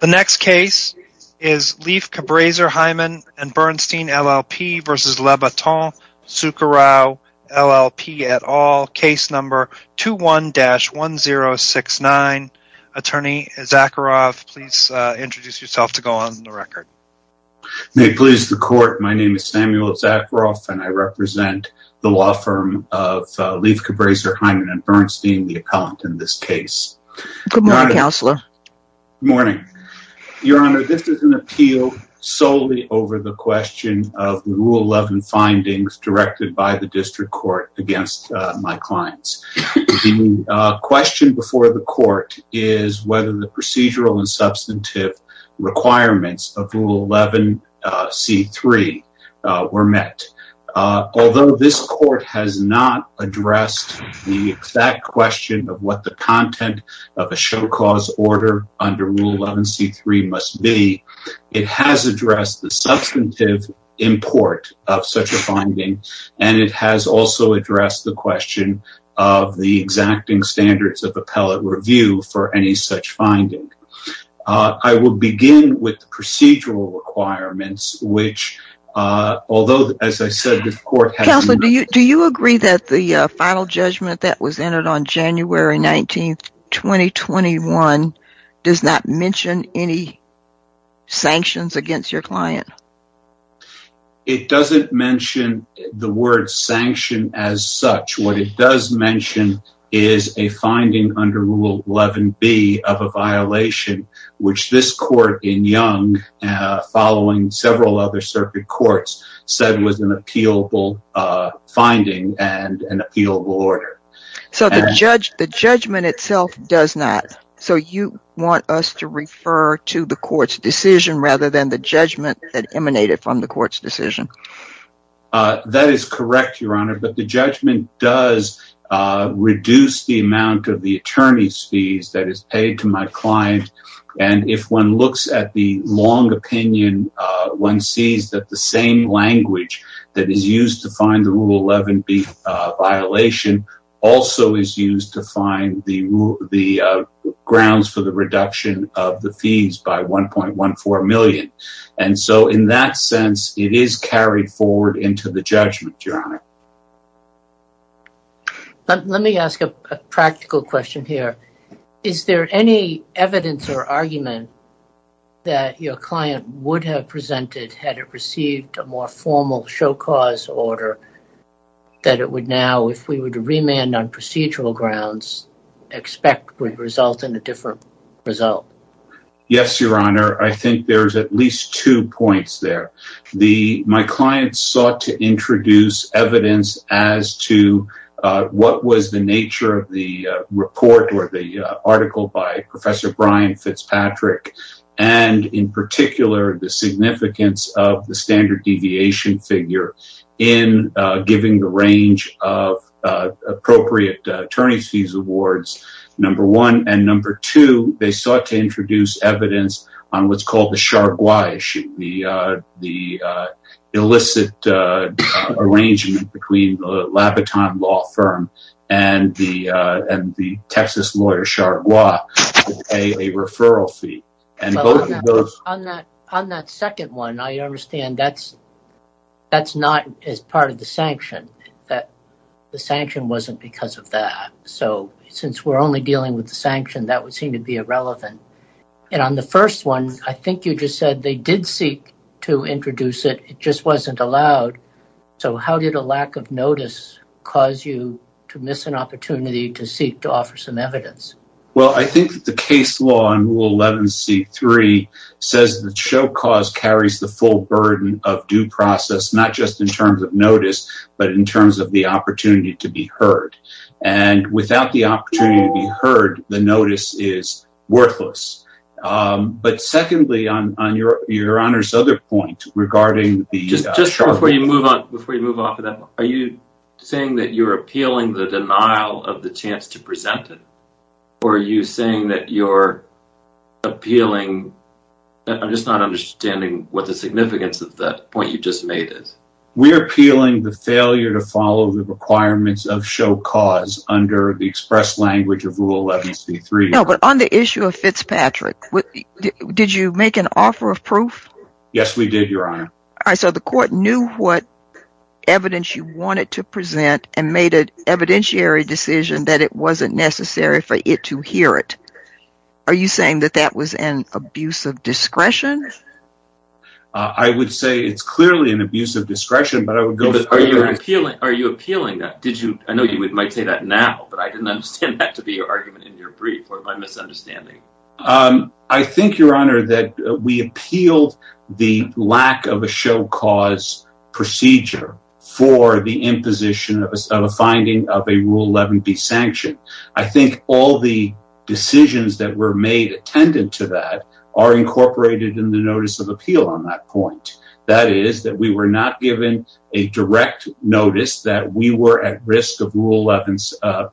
The next case is Leff Cabraser Heimann & Bernstein LLP v. Labaton Sucharow LLP et al., case number 21-1069. Attorney Zacharoff, please introduce yourself to go on the record. May it please the court, my name is Samuel Zacharoff and I represent the law firm of Leff Cabraser Heimann & Bernstein, the appellant in this case. Good morning, Counselor. Good morning. Your Honor, this is an appeal solely over the question of Rule 11 findings directed by the district court against my clients. The question before the court is whether the procedural and substantive requirements of Rule 11 C.3 were met. Although this court has not addressed the exact question of what the content of a show cause order under Rule 11 C.3 must be, it has addressed the substantive import of such a finding and it has also addressed the question of the exacting standards of appellate review for any such finding. I will begin with the procedural requirements which, although as I said the Do you agree that the final judgment that was entered on January 19th, 2021 does not mention any sanctions against your client? It doesn't mention the word sanction as such. What it does mention is a finding under Rule 11 B of a violation which this court in Young, following other circuit courts, said was an appealable finding and an appealable order. So the judgment itself does not. So you want us to refer to the court's decision rather than the judgment that emanated from the court's decision? That is correct, Your Honor, but the judgment does reduce the amount of the attorney's fees that is paid to my client and if one looks at the long opinion, one sees that the same language that is used to find the Rule 11 B violation also is used to find the grounds for the reduction of the fees by 1.14 million and so in that sense it is carried forward into the judgment, Your Honor. Let me ask a practical question here. Is there any evidence or argument that your client would have presented had it received a more formal show cause order that it would now, if we would remand on procedural grounds, expect would result in a different result? Yes, Your Honor, I think there's at least two points there. My client sought to introduce evidence as to what was the nature of the report or the article by Professor Brian Fitzpatrick and in particular the significance of the standard deviation figure in giving the range of appropriate attorney's fees awards, number one, and number two, they sought to introduce evidence on what's called the Chargois issue, the illicit arrangement between the Labaton law firm and the Texas lawyer Chargois to pay a referral fee. On that second one, I understand that's not as part of the sanction. That the sanction wasn't because of that. So since we're only dealing with the sanction, that would seem to be irrelevant. And on the first one, I think you just said they did seek to introduce it, it just wasn't allowed. So how did a lack of notice cause you to miss an opportunity to seek to offer some evidence? Well, I think the case law in Rule 11 C-3 says that show cause carries the full burden of due process, not just in terms of notice, but in terms of the opportunity to be heard. And without the opportunity to be heard, the notice is worthless. But secondly, on your Honor's other point regarding the Chargois. Just before you move off of that, are you saying that you're appealing the denial of the chance to present it? Or are you saying that you're appealing, I'm just not understanding what the significance of that point you just made is. We're appealing the failure to follow the requirements of show cause under the express language of Rule 11 C-3. No, but on the issue of Fitzpatrick, did you make an offer of proof? Yes, we did, Your Honor. All right, so the court knew what evidence you wanted to present and made an evidentiary decision that it wasn't necessary to hear it. Are you saying that that was an abuse of discretion? I would say it's clearly an abuse of discretion, but I would go further. Are you appealing that? I know you might say that now, but I didn't understand that to be your argument in your brief or my misunderstanding. I think, Your Honor, that we appealed the lack of a show cause procedure for the imposition of a finding of a Rule 11 B sanction. I think all the decisions that were made attendant to that are incorporated in the notice of appeal on that point. That is, that we were not given a direct notice that we were at risk of Rule 11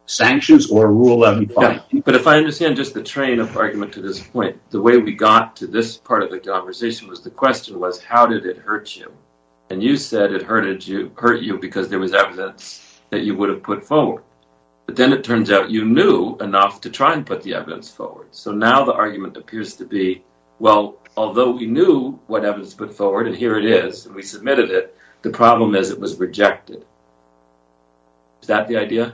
sanctions or Rule 11 B. But if I understand just the train of argument to this point, the way we got to this part of the conversation was the question was, how did it hurt you? And you said it hurt you because there was evidence that you would have put forward. But then it turns out you knew enough to try and put the evidence forward. So now the argument appears to be, well, although we knew what evidence put forward and here it is, we submitted it. The problem is it was rejected. Is that the idea?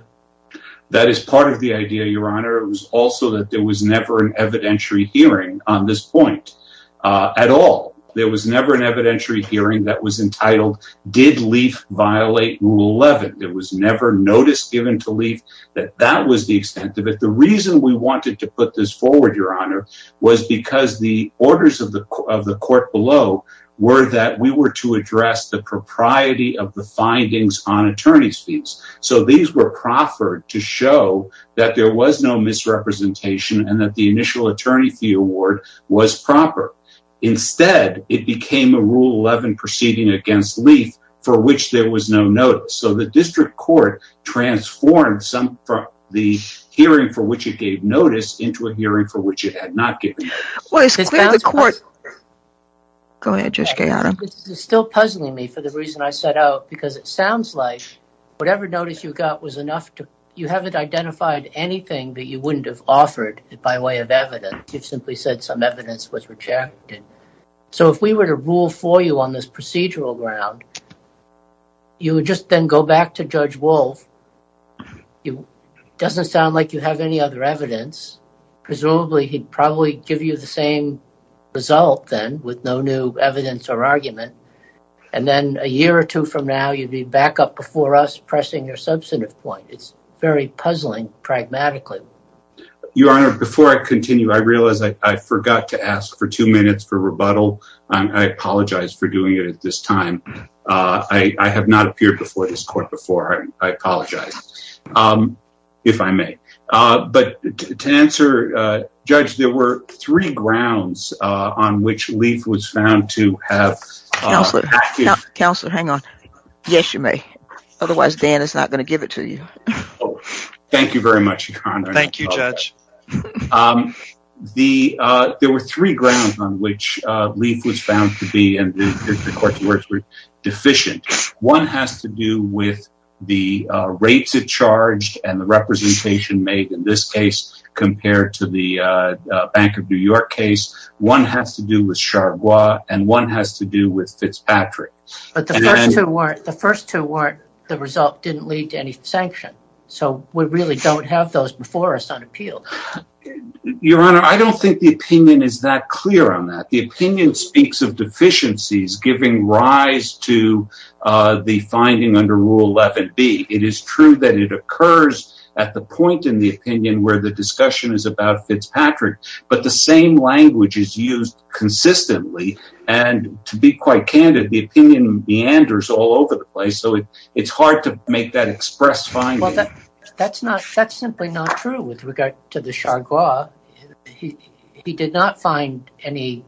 That is part of the idea, Your Honor. It was also that there was never an evidentiary hearing on this point at all. There was never an evidentiary hearing that was entitled, did LEAF violate Rule 11? There was never notice given to LEAF that that was the extent of it. The reason we wanted to put this forward, Your Honor, was because the orders of the court below were that we were to address the propriety of the findings on attorney's fees. So these were proffered to show that there was no misrepresentation and that the initial attorney fee award was proper. Instead, it became a Rule 11 proceeding against LEAF for which there was no notice. So the district court transformed the hearing for which it gave notice into a hearing for which it had not given notice. It's still puzzling me for the reason I set out because it sounds like whatever notice you got, you haven't identified anything that you wouldn't have offered by way of evidence. You've simply said some evidence was rejected. So if we were to rule for you on this procedural ground, you would just then go back to Judge Wolf. It doesn't sound like you have any other evidence. Presumably, he'd probably give you the same result then with no new evidence or argument. And then a year or two from now, you'd be back up before us pressing your substantive point. It's very puzzling pragmatically. Your Honor, before I continue, I realize I forgot to ask for two minutes for rebuttal. I apologize for doing it at this time. I have not appeared before this court before. I apologize, if I may. But to answer, Judge, there were three grounds on which LEAF was found to have... Counselor, hang on. Yes, you may. Otherwise, Dan is not going to give it to you. Thank you very much, Your Honor. Thank you, Judge. There were three grounds on which LEAF was found to be deficient. One has to do with the rates it charged and the representation made in this case compared to the Bank of New York case. One has to do with Fitzpatrick. But the first two weren't. The result didn't lead to any sanction. So we really don't have those before us on appeal. Your Honor, I don't think the opinion is that clear on that. The opinion speaks of deficiencies giving rise to the finding under Rule 11B. It is true that it occurs at the point in the opinion where the discussion is about Fitzpatrick, but the same language is used consistently. And to be quite candid, the opinion meanders all over the place. So it's hard to make that express finding. That's simply not true with regard to the Chargois. He did not find any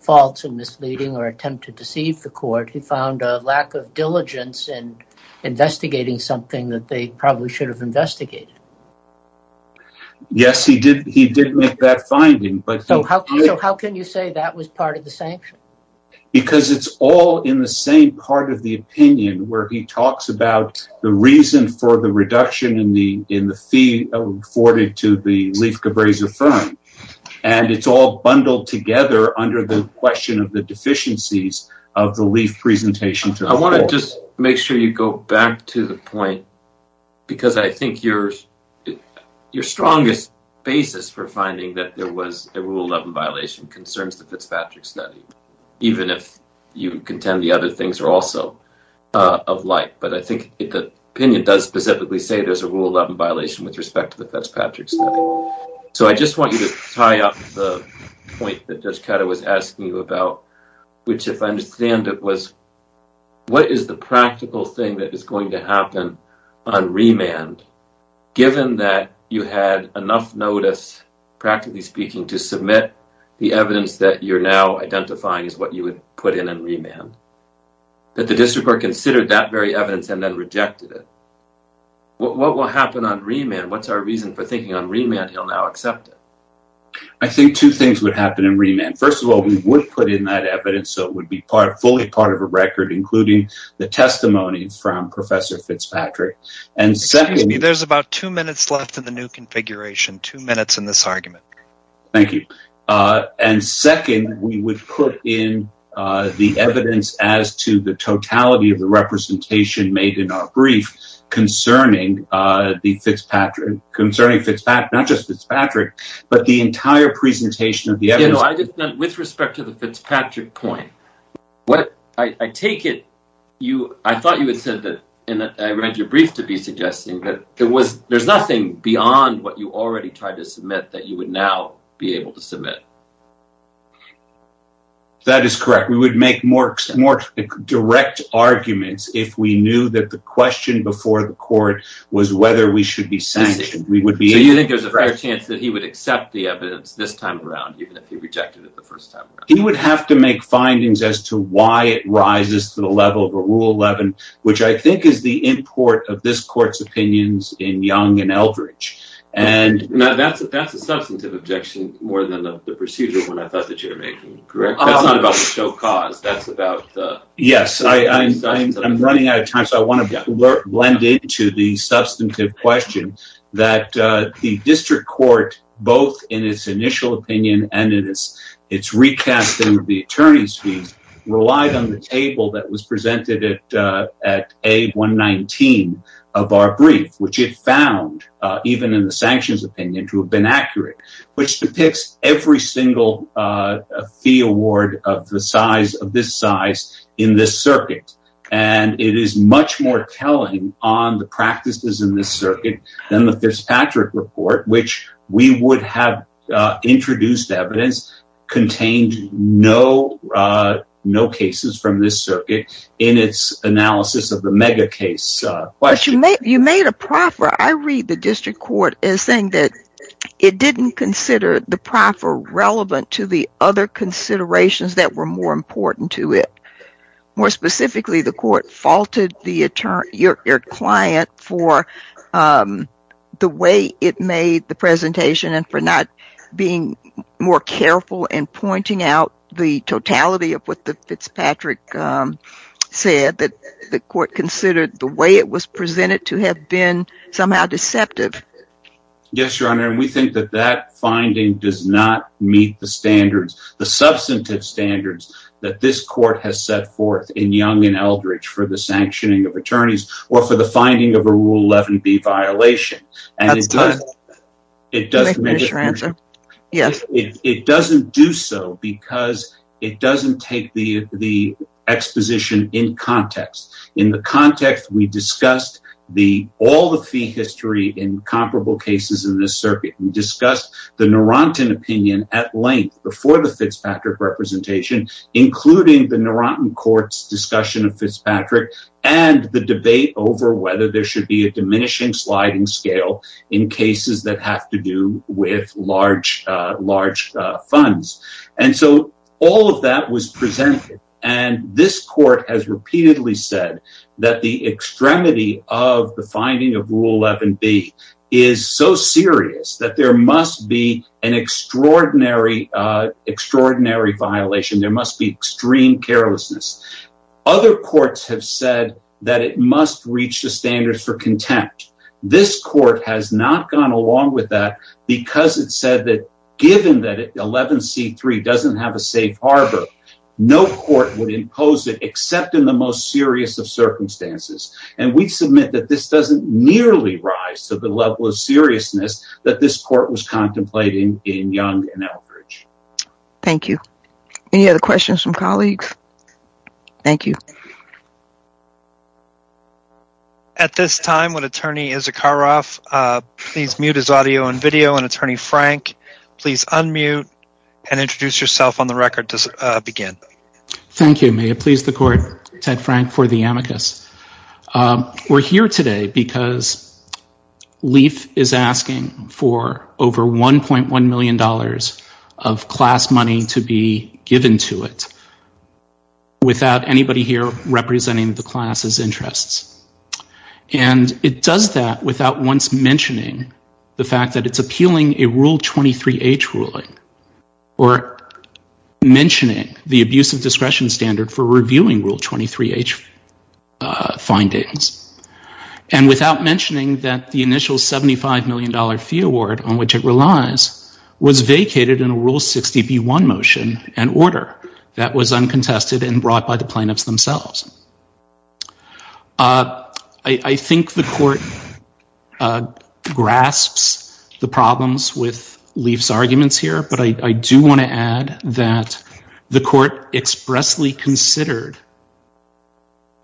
faults or misleading or attempt to deceive the court. He found a lack of diligence in investigating something that they probably should have investigated. Yes, he did. He did make that finding. So how can you say that was part of the sanction? Because it's all in the same part of the opinion where he talks about the reason for the reduction in the fee afforded to the LEAF Cabreza firm. And it's all bundled together under the question of the deficiencies of the LEAF presentation to the court. I want to just make sure you go back to the point, because I think your strongest basis for finding that there was a Rule 11 violation concerns the Fitzpatrick study, even if you contend the other things are also of light. But I think the opinion does specifically say there's a Rule 11 violation with respect to the Fitzpatrick study. So I just want you to tie up the point that Judge Caddo was asking you about, which, if I understand it, was what is the practical thing that is going to happen on remand, given that you had enough notice, practically speaking, to submit the evidence that you're now identifying as what you would put in on remand, that the district court considered that very evidence and then rejected it. What will happen on remand? What's our reason for thinking on remand he'll now accept it? I think two things would happen in remand. First of all, we would put in that evidence, so it would be fully part of a record, including the testimony from Professor Fitzpatrick. Excuse me, there's about two minutes left in the new configuration, two minutes in this argument. Thank you. And second, we would put in the evidence as to the totality of the representation made in our brief concerning concerning Fitzpatrick, not just Fitzpatrick, but the entire presentation of the evidence. With respect to the Fitzpatrick point, I take it, I thought you had said that, and I read your brief to be suggesting that there's nothing beyond what you already tried to submit that you would now be able to submit. That is correct. We would make more direct arguments if we knew that the question before the court was whether we should be sanctioned. So you think there's a fair chance that he would accept the evidence this time around, even if he rejected it the first time around? He would have to make findings as to why it rises to the level of a Rule 11, which I think is the import of this court's opinions in Young and Eldridge. Now that's a substantive objection more than the procedure one I thought that you Yes, I'm running out of time, so I want to blend into the substantive question that the district court, both in its initial opinion and in its recast in the attorney's fees, relied on the table that was presented at A119 of our brief, which it found, even in the sanctions opinion, to have been accurate, which depicts every single fee award of the size of this size in this circuit. And it is much more telling on the practices in this circuit than the Fitzpatrick report, which we would have introduced evidence contained no cases from this circuit in its analysis of the mega case question. But you made a proffer. I read the district court as saying that it didn't consider the proffer relevant to the other considerations that were more important to it. More specifically, the court faulted your client for the way it made the presentation and for not being more careful in pointing out the totality of what the Fitzpatrick said, that the court considered the way it was presented to have been somehow deceptive. Yes, Your Honor, and we think that that finding does not meet the standards. The substantive standards that this court has set forth in Young and Eldridge for the sanctioning of attorneys or for the finding of a Rule 11B violation. And it doesn't do so because it doesn't take the exposition in context. In the context, we discussed all the fee history in comparable cases in this circuit and discussed the Narantan opinion at the Fitzpatrick representation, including the Narantan court's discussion of Fitzpatrick and the debate over whether there should be a diminishing sliding scale in cases that have to do with large funds. And so all of that was presented. And this court has repeatedly said that the extremity of the finding of Rule 11B is so serious that there must be an extraordinary extraordinary violation. There must be extreme carelessness. Other courts have said that it must reach the standards for contempt. This court has not gone along with that because it said that, given that 11C3 doesn't have a safe harbor, no court would impose it except in the most serious of circumstances. And we submit that this doesn't nearly rise to the level of seriousness that this Thank you. Any other questions from colleagues? Thank you. At this time, would attorney Issacharoff please mute his audio and video and attorney Frank, please unmute and introduce yourself on the record to begin. Thank you. May it please the court, Ted Frank for the amicus. We're here today because LEAF is asking for over $1.1 million of class money to be given to it without anybody here representing the class's interests. And it does that without once mentioning the fact that it's appealing a Rule 23H ruling or mentioning the abuse of discretion standard for reviewing Rule 23H findings. And without mentioning that the initial $75 million fee award on which it relies was vacated in a Rule 60B1 motion and order that was uncontested and brought by the plaintiffs themselves. I think the court grasps the problems with LEAF's arguments here, but I do want to add that the court expressly considered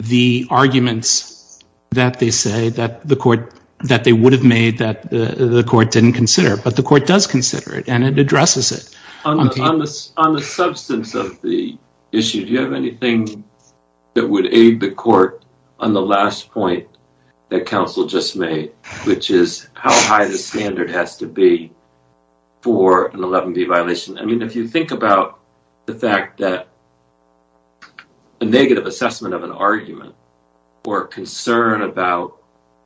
the arguments that they say that the court, that they would have made that the court didn't consider, but the court does consider it and it addresses it. On the substance of the issue, do you have anything that would aid the court on the last point that counsel just made, which is how high the standard has to be for an 11B violation? I mean, if you think about the fact that a negative assessment of an argument or concern about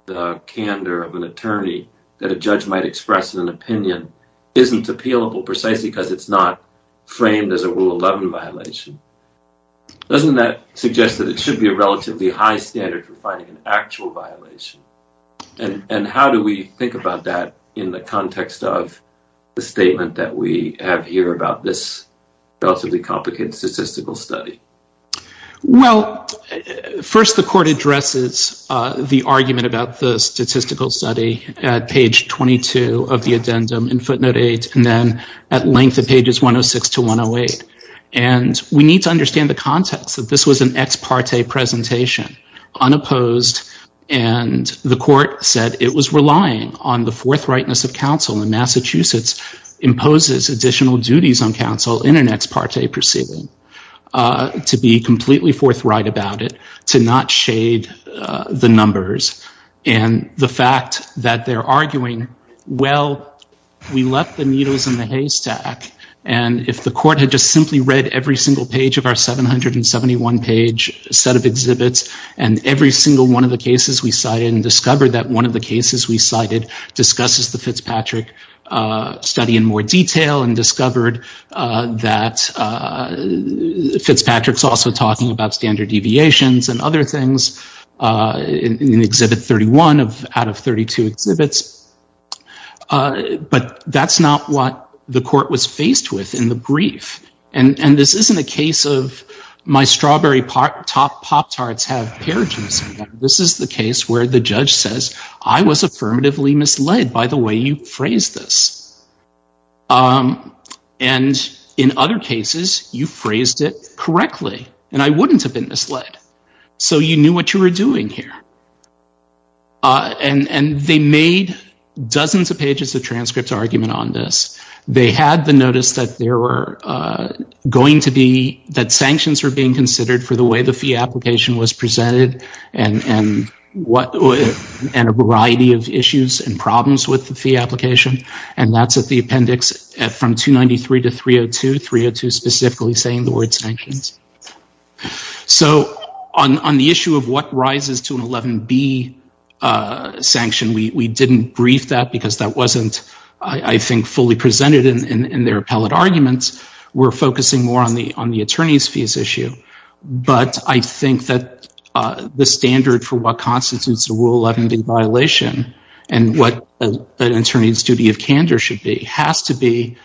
the candor of an attorney that a judge might express in an opinion isn't appealable precisely because it's not framed as a Rule 11 violation, doesn't that suggest that it should be a relatively high standard for finding an context of the statement that we have here about this relatively complicated statistical study? Well, first the court addresses the argument about the statistical study at page 22 of the addendum in footnote 8 and then at length at pages 106 to 108. And we need to understand the context that this was an ex parte presentation, unopposed, and the court said it was relying on the forthrightness of counsel in Massachusetts imposes additional duties on counsel in an ex parte proceeding to be completely forthright about it, to not shade the numbers. And the fact that they're arguing, well, we left the needles in the haystack and if the court had just simply read every single page of our 771 page set of exhibits and every single one of the cases we cited discusses the Fitzpatrick study in more detail and discovered that Fitzpatrick's also talking about standard deviations and other things in exhibit 31 out of 32 exhibits, but that's not what the court was faced with in the brief. And this isn't a case of my strawberry pop tarts have pears in them. This is the case where the judge says I was affirmatively misled by the way you phrased this. And in other cases you phrased it correctly and I wouldn't have been misled. So you knew what you were doing here. And they made dozens of pages of transcripts argument on this. They had the notice that there were going to be, that sanctions were being considered for the way the fee application was presented and a variety of issues and problems with the fee application. And that's at the appendix from 293 to 302, 302 specifically saying the word sanctions. So on the issue of what rises to an 11B sanction, we didn't brief that because that wasn't, I think, fully presented in their appellate arguments. We're focusing more on the attorney's fees issue, but I think that the standard for what constitutes a rule 11B violation and what an attorney's duty of candor should be has to be,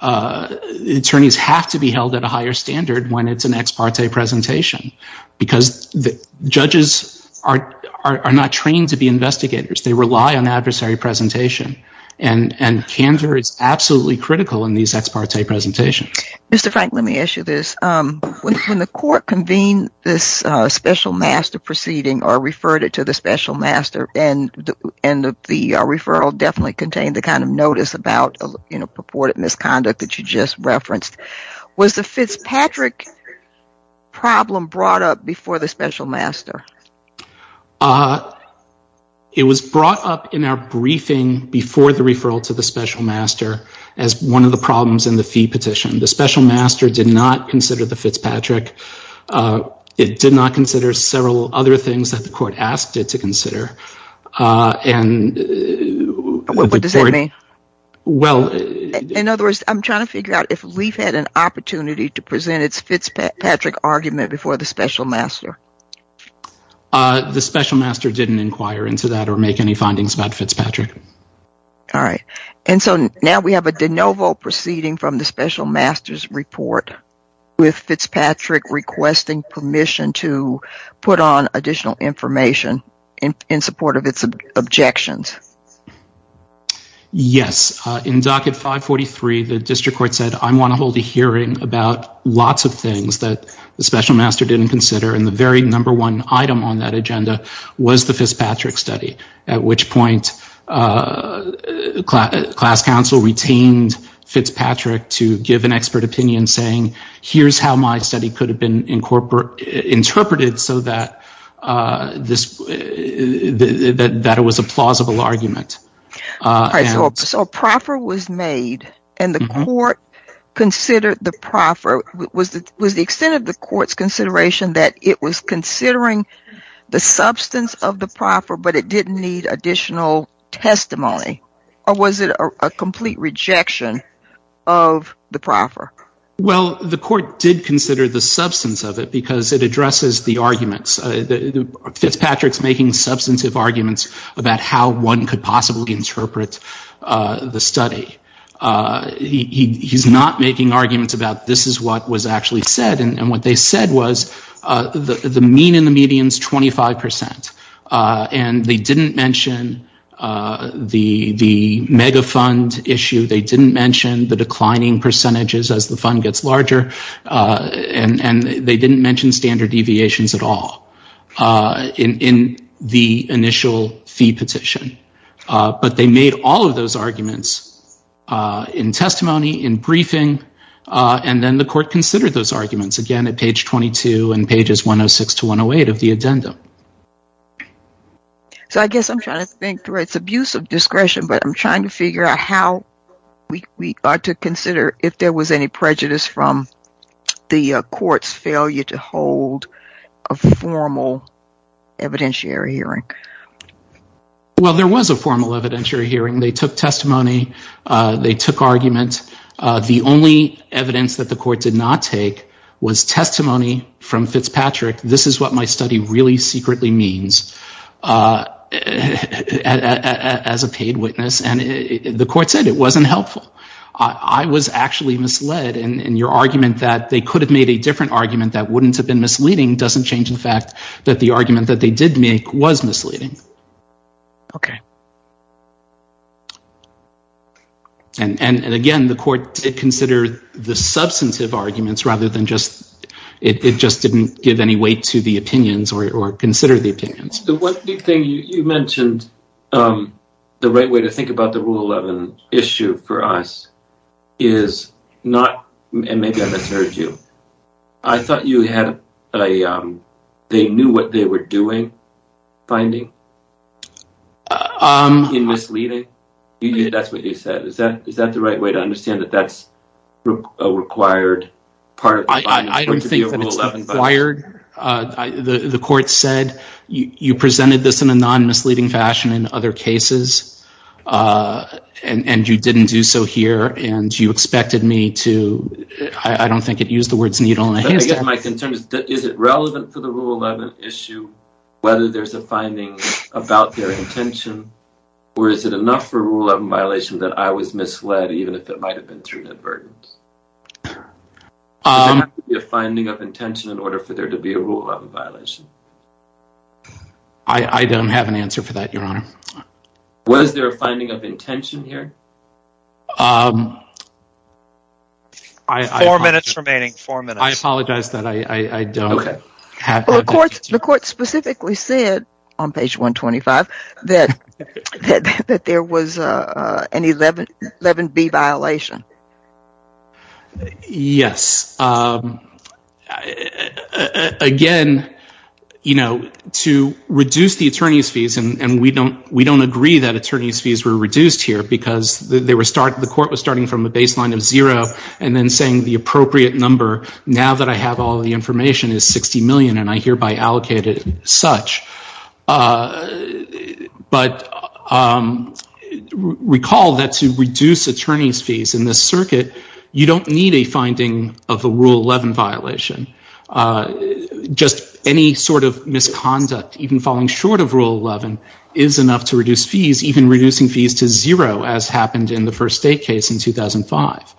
attorneys have to be held at a higher standard when it's an ex parte presentation because the judges are not trained to be investigators. They rely on adversary presentation and candor is absolutely critical in these ex parte presentations. Mr. Frank, let me ask you this. When the court convened this special master proceeding or referred it to the special master and the referral definitely contained the kind of notice about purported misconduct that you just referenced. Was the Fitzpatrick problem brought up before the special master? It was brought up in our briefing before the referral to the special master as one of the problems in the fee petition. The special master did not consider the Fitzpatrick. It did not consider several other things that the court asked it to consider. And what does that mean? Well, in other words, I'm trying to figure out if we've had an opportunity to present its Fitzpatrick argument before the special master. The special master didn't inquire into that or make any findings about Fitzpatrick. All right. And so now we have a de novo proceeding from the special master's report with Fitzpatrick requesting permission to put on additional information in support of its objections. Yes. In docket 543, the district court said, I want to hold a hearing about lots of things that the special master didn't consider. And the very number one item on that agenda was the Fitzpatrick study, at which point class counsel retained Fitzpatrick to give an expert opinion saying, here's how my study could have been interpreted so that it was a plausible argument. So a proffer was made and the court considered the proffer. Was the extent of the court's consideration that it was considering the substance of the proffer, but it didn't need additional testimony? Or was it a complete rejection of the proffer? Well, the court did consider the substance of it because it addresses the arguments. Fitzpatrick's making substantive arguments about how one could possibly interpret the study. He's not making arguments about this is what was actually said. And what they said was the mean and the median's 25%. And they didn't mention the mega fund issue. They didn't mention the declining percentages as the fund gets larger. And they didn't mention standard deviations at all in the initial fee petition. But they made all of those arguments in testimony, in briefing, and then the court considered those arguments again at page 22 and pages 106 to 108 of the addendum. So I guess I'm trying to think through. It's abuse of discretion, but I'm trying to figure out how we ought to consider if there was any prejudice from the court's failure to hold a formal evidentiary hearing. Well, there was a formal evidentiary hearing. They took testimony. They took arguments. The only evidence that the court did not take was testimony from Fitzpatrick. This is what my study really secretly means as a paid witness. And the court said it wasn't helpful. I was actually misled. And your argument that they could have made a different argument that wouldn't have been misleading doesn't change the fact that the argument that they did make was misleading. And again, the court did consider the substantive arguments rather than just, it just didn't give any weight to the opinions or consider the opinions. The one thing you mentioned, the right way to think about the Rule 11 issue for us is not, and maybe I misheard you. I thought you had a, they knew what they were doing, finding in misleading. That's what you said. Is that the right way to understand that that's a required part? I don't think that it's required. The court said you presented this in a non-misleading fashion in other cases and you didn't do so here. And you expected me to, I don't think it used the words needle in a haystack. Is it relevant for the Rule 11 issue, whether there's a finding about their intention or is it enough for Rule 11 violation that I was asking? Does it have to be a finding of intention in order for there to be a Rule 11 violation? I don't have an answer for that, your honor. Was there a finding of intention here? Four minutes remaining, four minutes. I apologize that I don't. The court specifically said on page 125 that there was an 11B violation. Yes. Again, you know, to reduce the attorney's fees, and we don't agree that attorney's fees were reduced here because the court was starting from a baseline of zero and then saying the information is 60 million and I hereby allocated such. But recall that to reduce attorney's fees in this circuit, you don't need a finding of a Rule 11 violation. Just any sort of misconduct, even falling short of Rule 11, is enough to reduce fees, even reducing fees to zero as happened in the first state case in 2005.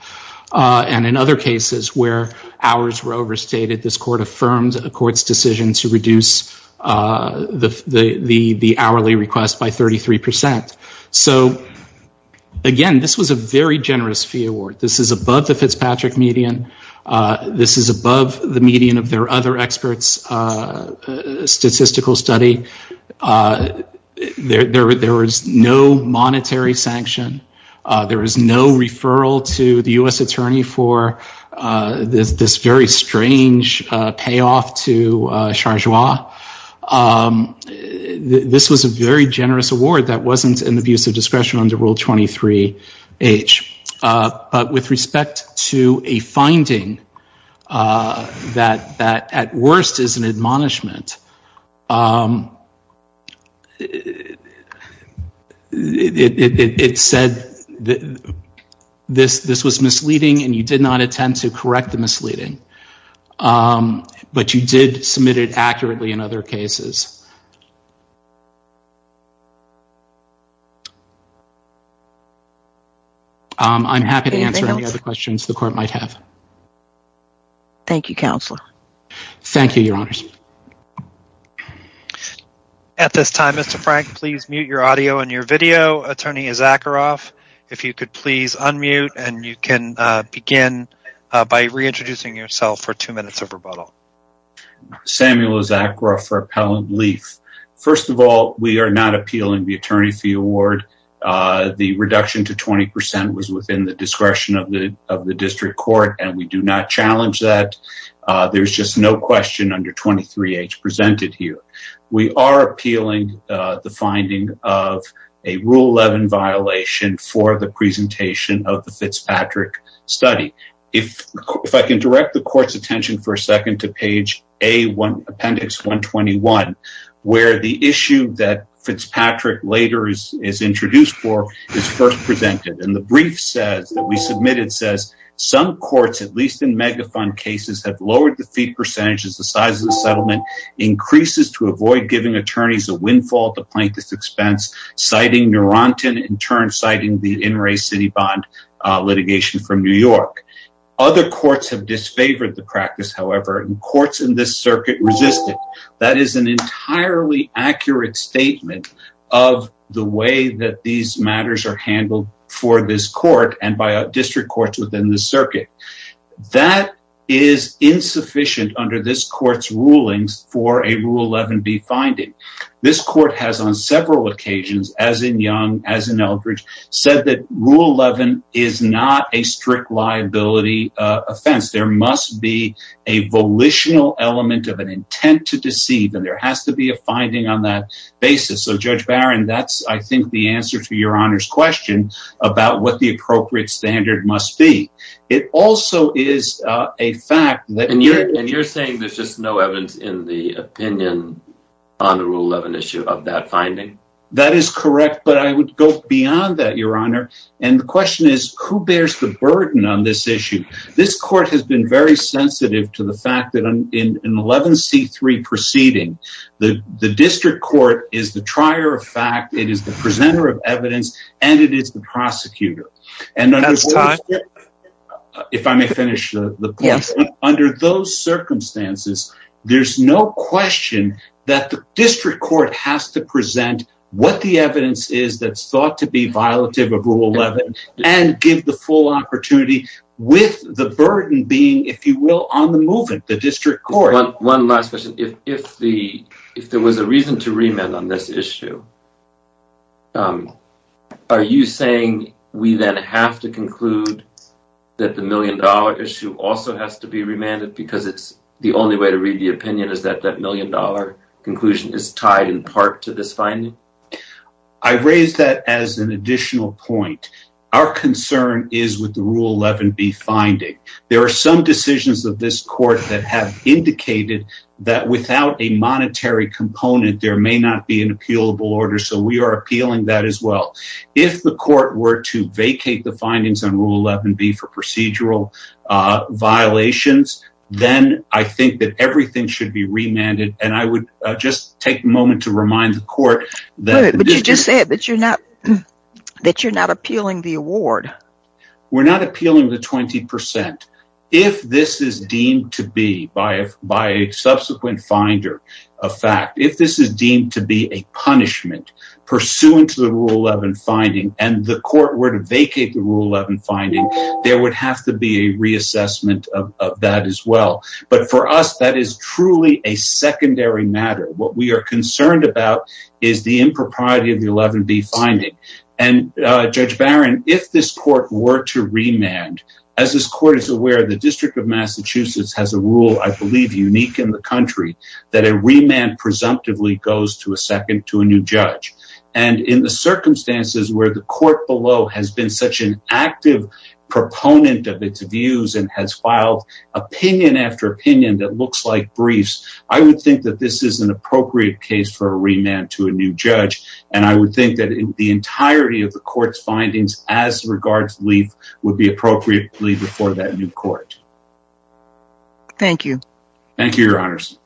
And in other cases where hours were overstated, this court affirmed a court's decision to reduce the hourly request by 33%. So again, this was a very generous fee award. This is above the Fitzpatrick median. This is above the median of their other experts' statistical study. There was no monetary sanction There was no referral to the U.S. attorney for this very strange payoff to Chargeois. This was a very generous award that wasn't in the views of discretion under Rule 23-H. But with respect to a finding that at worst is an admonishment, it said that this was misleading and you did not intend to correct the misleading. But you did submit it accurately in other cases. I'm happy to answer any other questions the court might have. Thank you, Counselor. Thank you, Your Honors. At this time, Mr. Frank, please mute your audio and your video. Attorney Zakharoff, if you could please unmute and you can begin by reintroducing yourself for two minutes of rebuttal. Samuel Zakharoff for Appellant Leaf. First of all, we are not appealing the attorney fee award. The reduction to 20% was within the discretion of the district court and we do not challenge that. There's just no question under 23-H presented here. We are appealing the finding of a Rule 11 violation for the presentation of the Fitzpatrick study. If I can direct the court's attention for a second to page A, appendix 121, where the issue that Fitzpatrick later is introduced for is first presented. The brief says that we submitted says some courts, at least in megafund cases, have lowered the fee percentages. The size of the settlement increases to avoid giving attorneys a windfall at the plaintiff's expense, citing Neurontin in turn, citing the in-ray city bond litigation from New York. Other courts have disfavored the practice, however, and courts in this circuit resisted. That is an entirely accurate statement of the way that these matters are handled for this court and by district courts within the circuit. That is insufficient under this court's rulings for a Rule 11B finding. This court has on several occasions, as in Young, as in Eldridge, said that Rule 11 is not a strict liability offense. There must be a volitional element of an intent to deceive, and there has to be a finding on that basis. So, Judge Barron, that's, I think, the answer to Your Honor's question about what the appropriate standard must be. It also is a fact that... And you're saying there's just no evidence in the opinion on the Rule 11 issue of that finding? That is correct, but I would go beyond that, Your Honor. And the question is, who bears the burden on this issue? This court has been very proceeding. The district court is the trier of fact, it is the presenter of evidence, and it is the prosecutor. And under those circumstances, there's no question that the district court has to present what the evidence is that's thought to be violative of Rule 11 and give the full opportunity with the burden being, if you will, on the movement, the district court. One last question. If there was a reason to remand on this issue, are you saying we then have to conclude that the million-dollar issue also has to be remanded because it's the only way to read the opinion is that that million-dollar conclusion is tied in part to this finding? I raise that as an additional point. Our concern is with the Rule 11b finding. There are some decisions of this court that have indicated that without a monetary component, there may not be an appealable order. So we are appealing that as well. If the court were to vacate the findings on Rule 11b for procedural violations, then I think that everything should be remanded. And I would just take a moment to remind the court that you're not appealing the 20%. If this is deemed to be, by a subsequent finder of fact, if this is deemed to be a punishment pursuant to the Rule 11 finding and the court were to vacate the Rule 11 finding, there would have to be a reassessment of that as well. But for us, that is truly a secondary matter. What we are concerned about is the impropriety of the 11b finding. And Judge as this court is aware, the District of Massachusetts has a rule I believe unique in the country that a remand presumptively goes to a second to a new judge. And in the circumstances where the court below has been such an active proponent of its views and has filed opinion after opinion that looks like briefs, I would think that this is an appropriate case for a remand to a new judge. And I would think that the entirety of the court's findings as regards would be appropriately before that new court. Thank you. Thank you, Your Honors.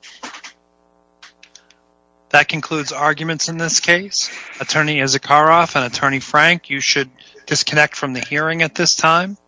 That concludes arguments in this case. Attorney Izakaroff and Attorney Frank, you should disconnect from the hearing at this time.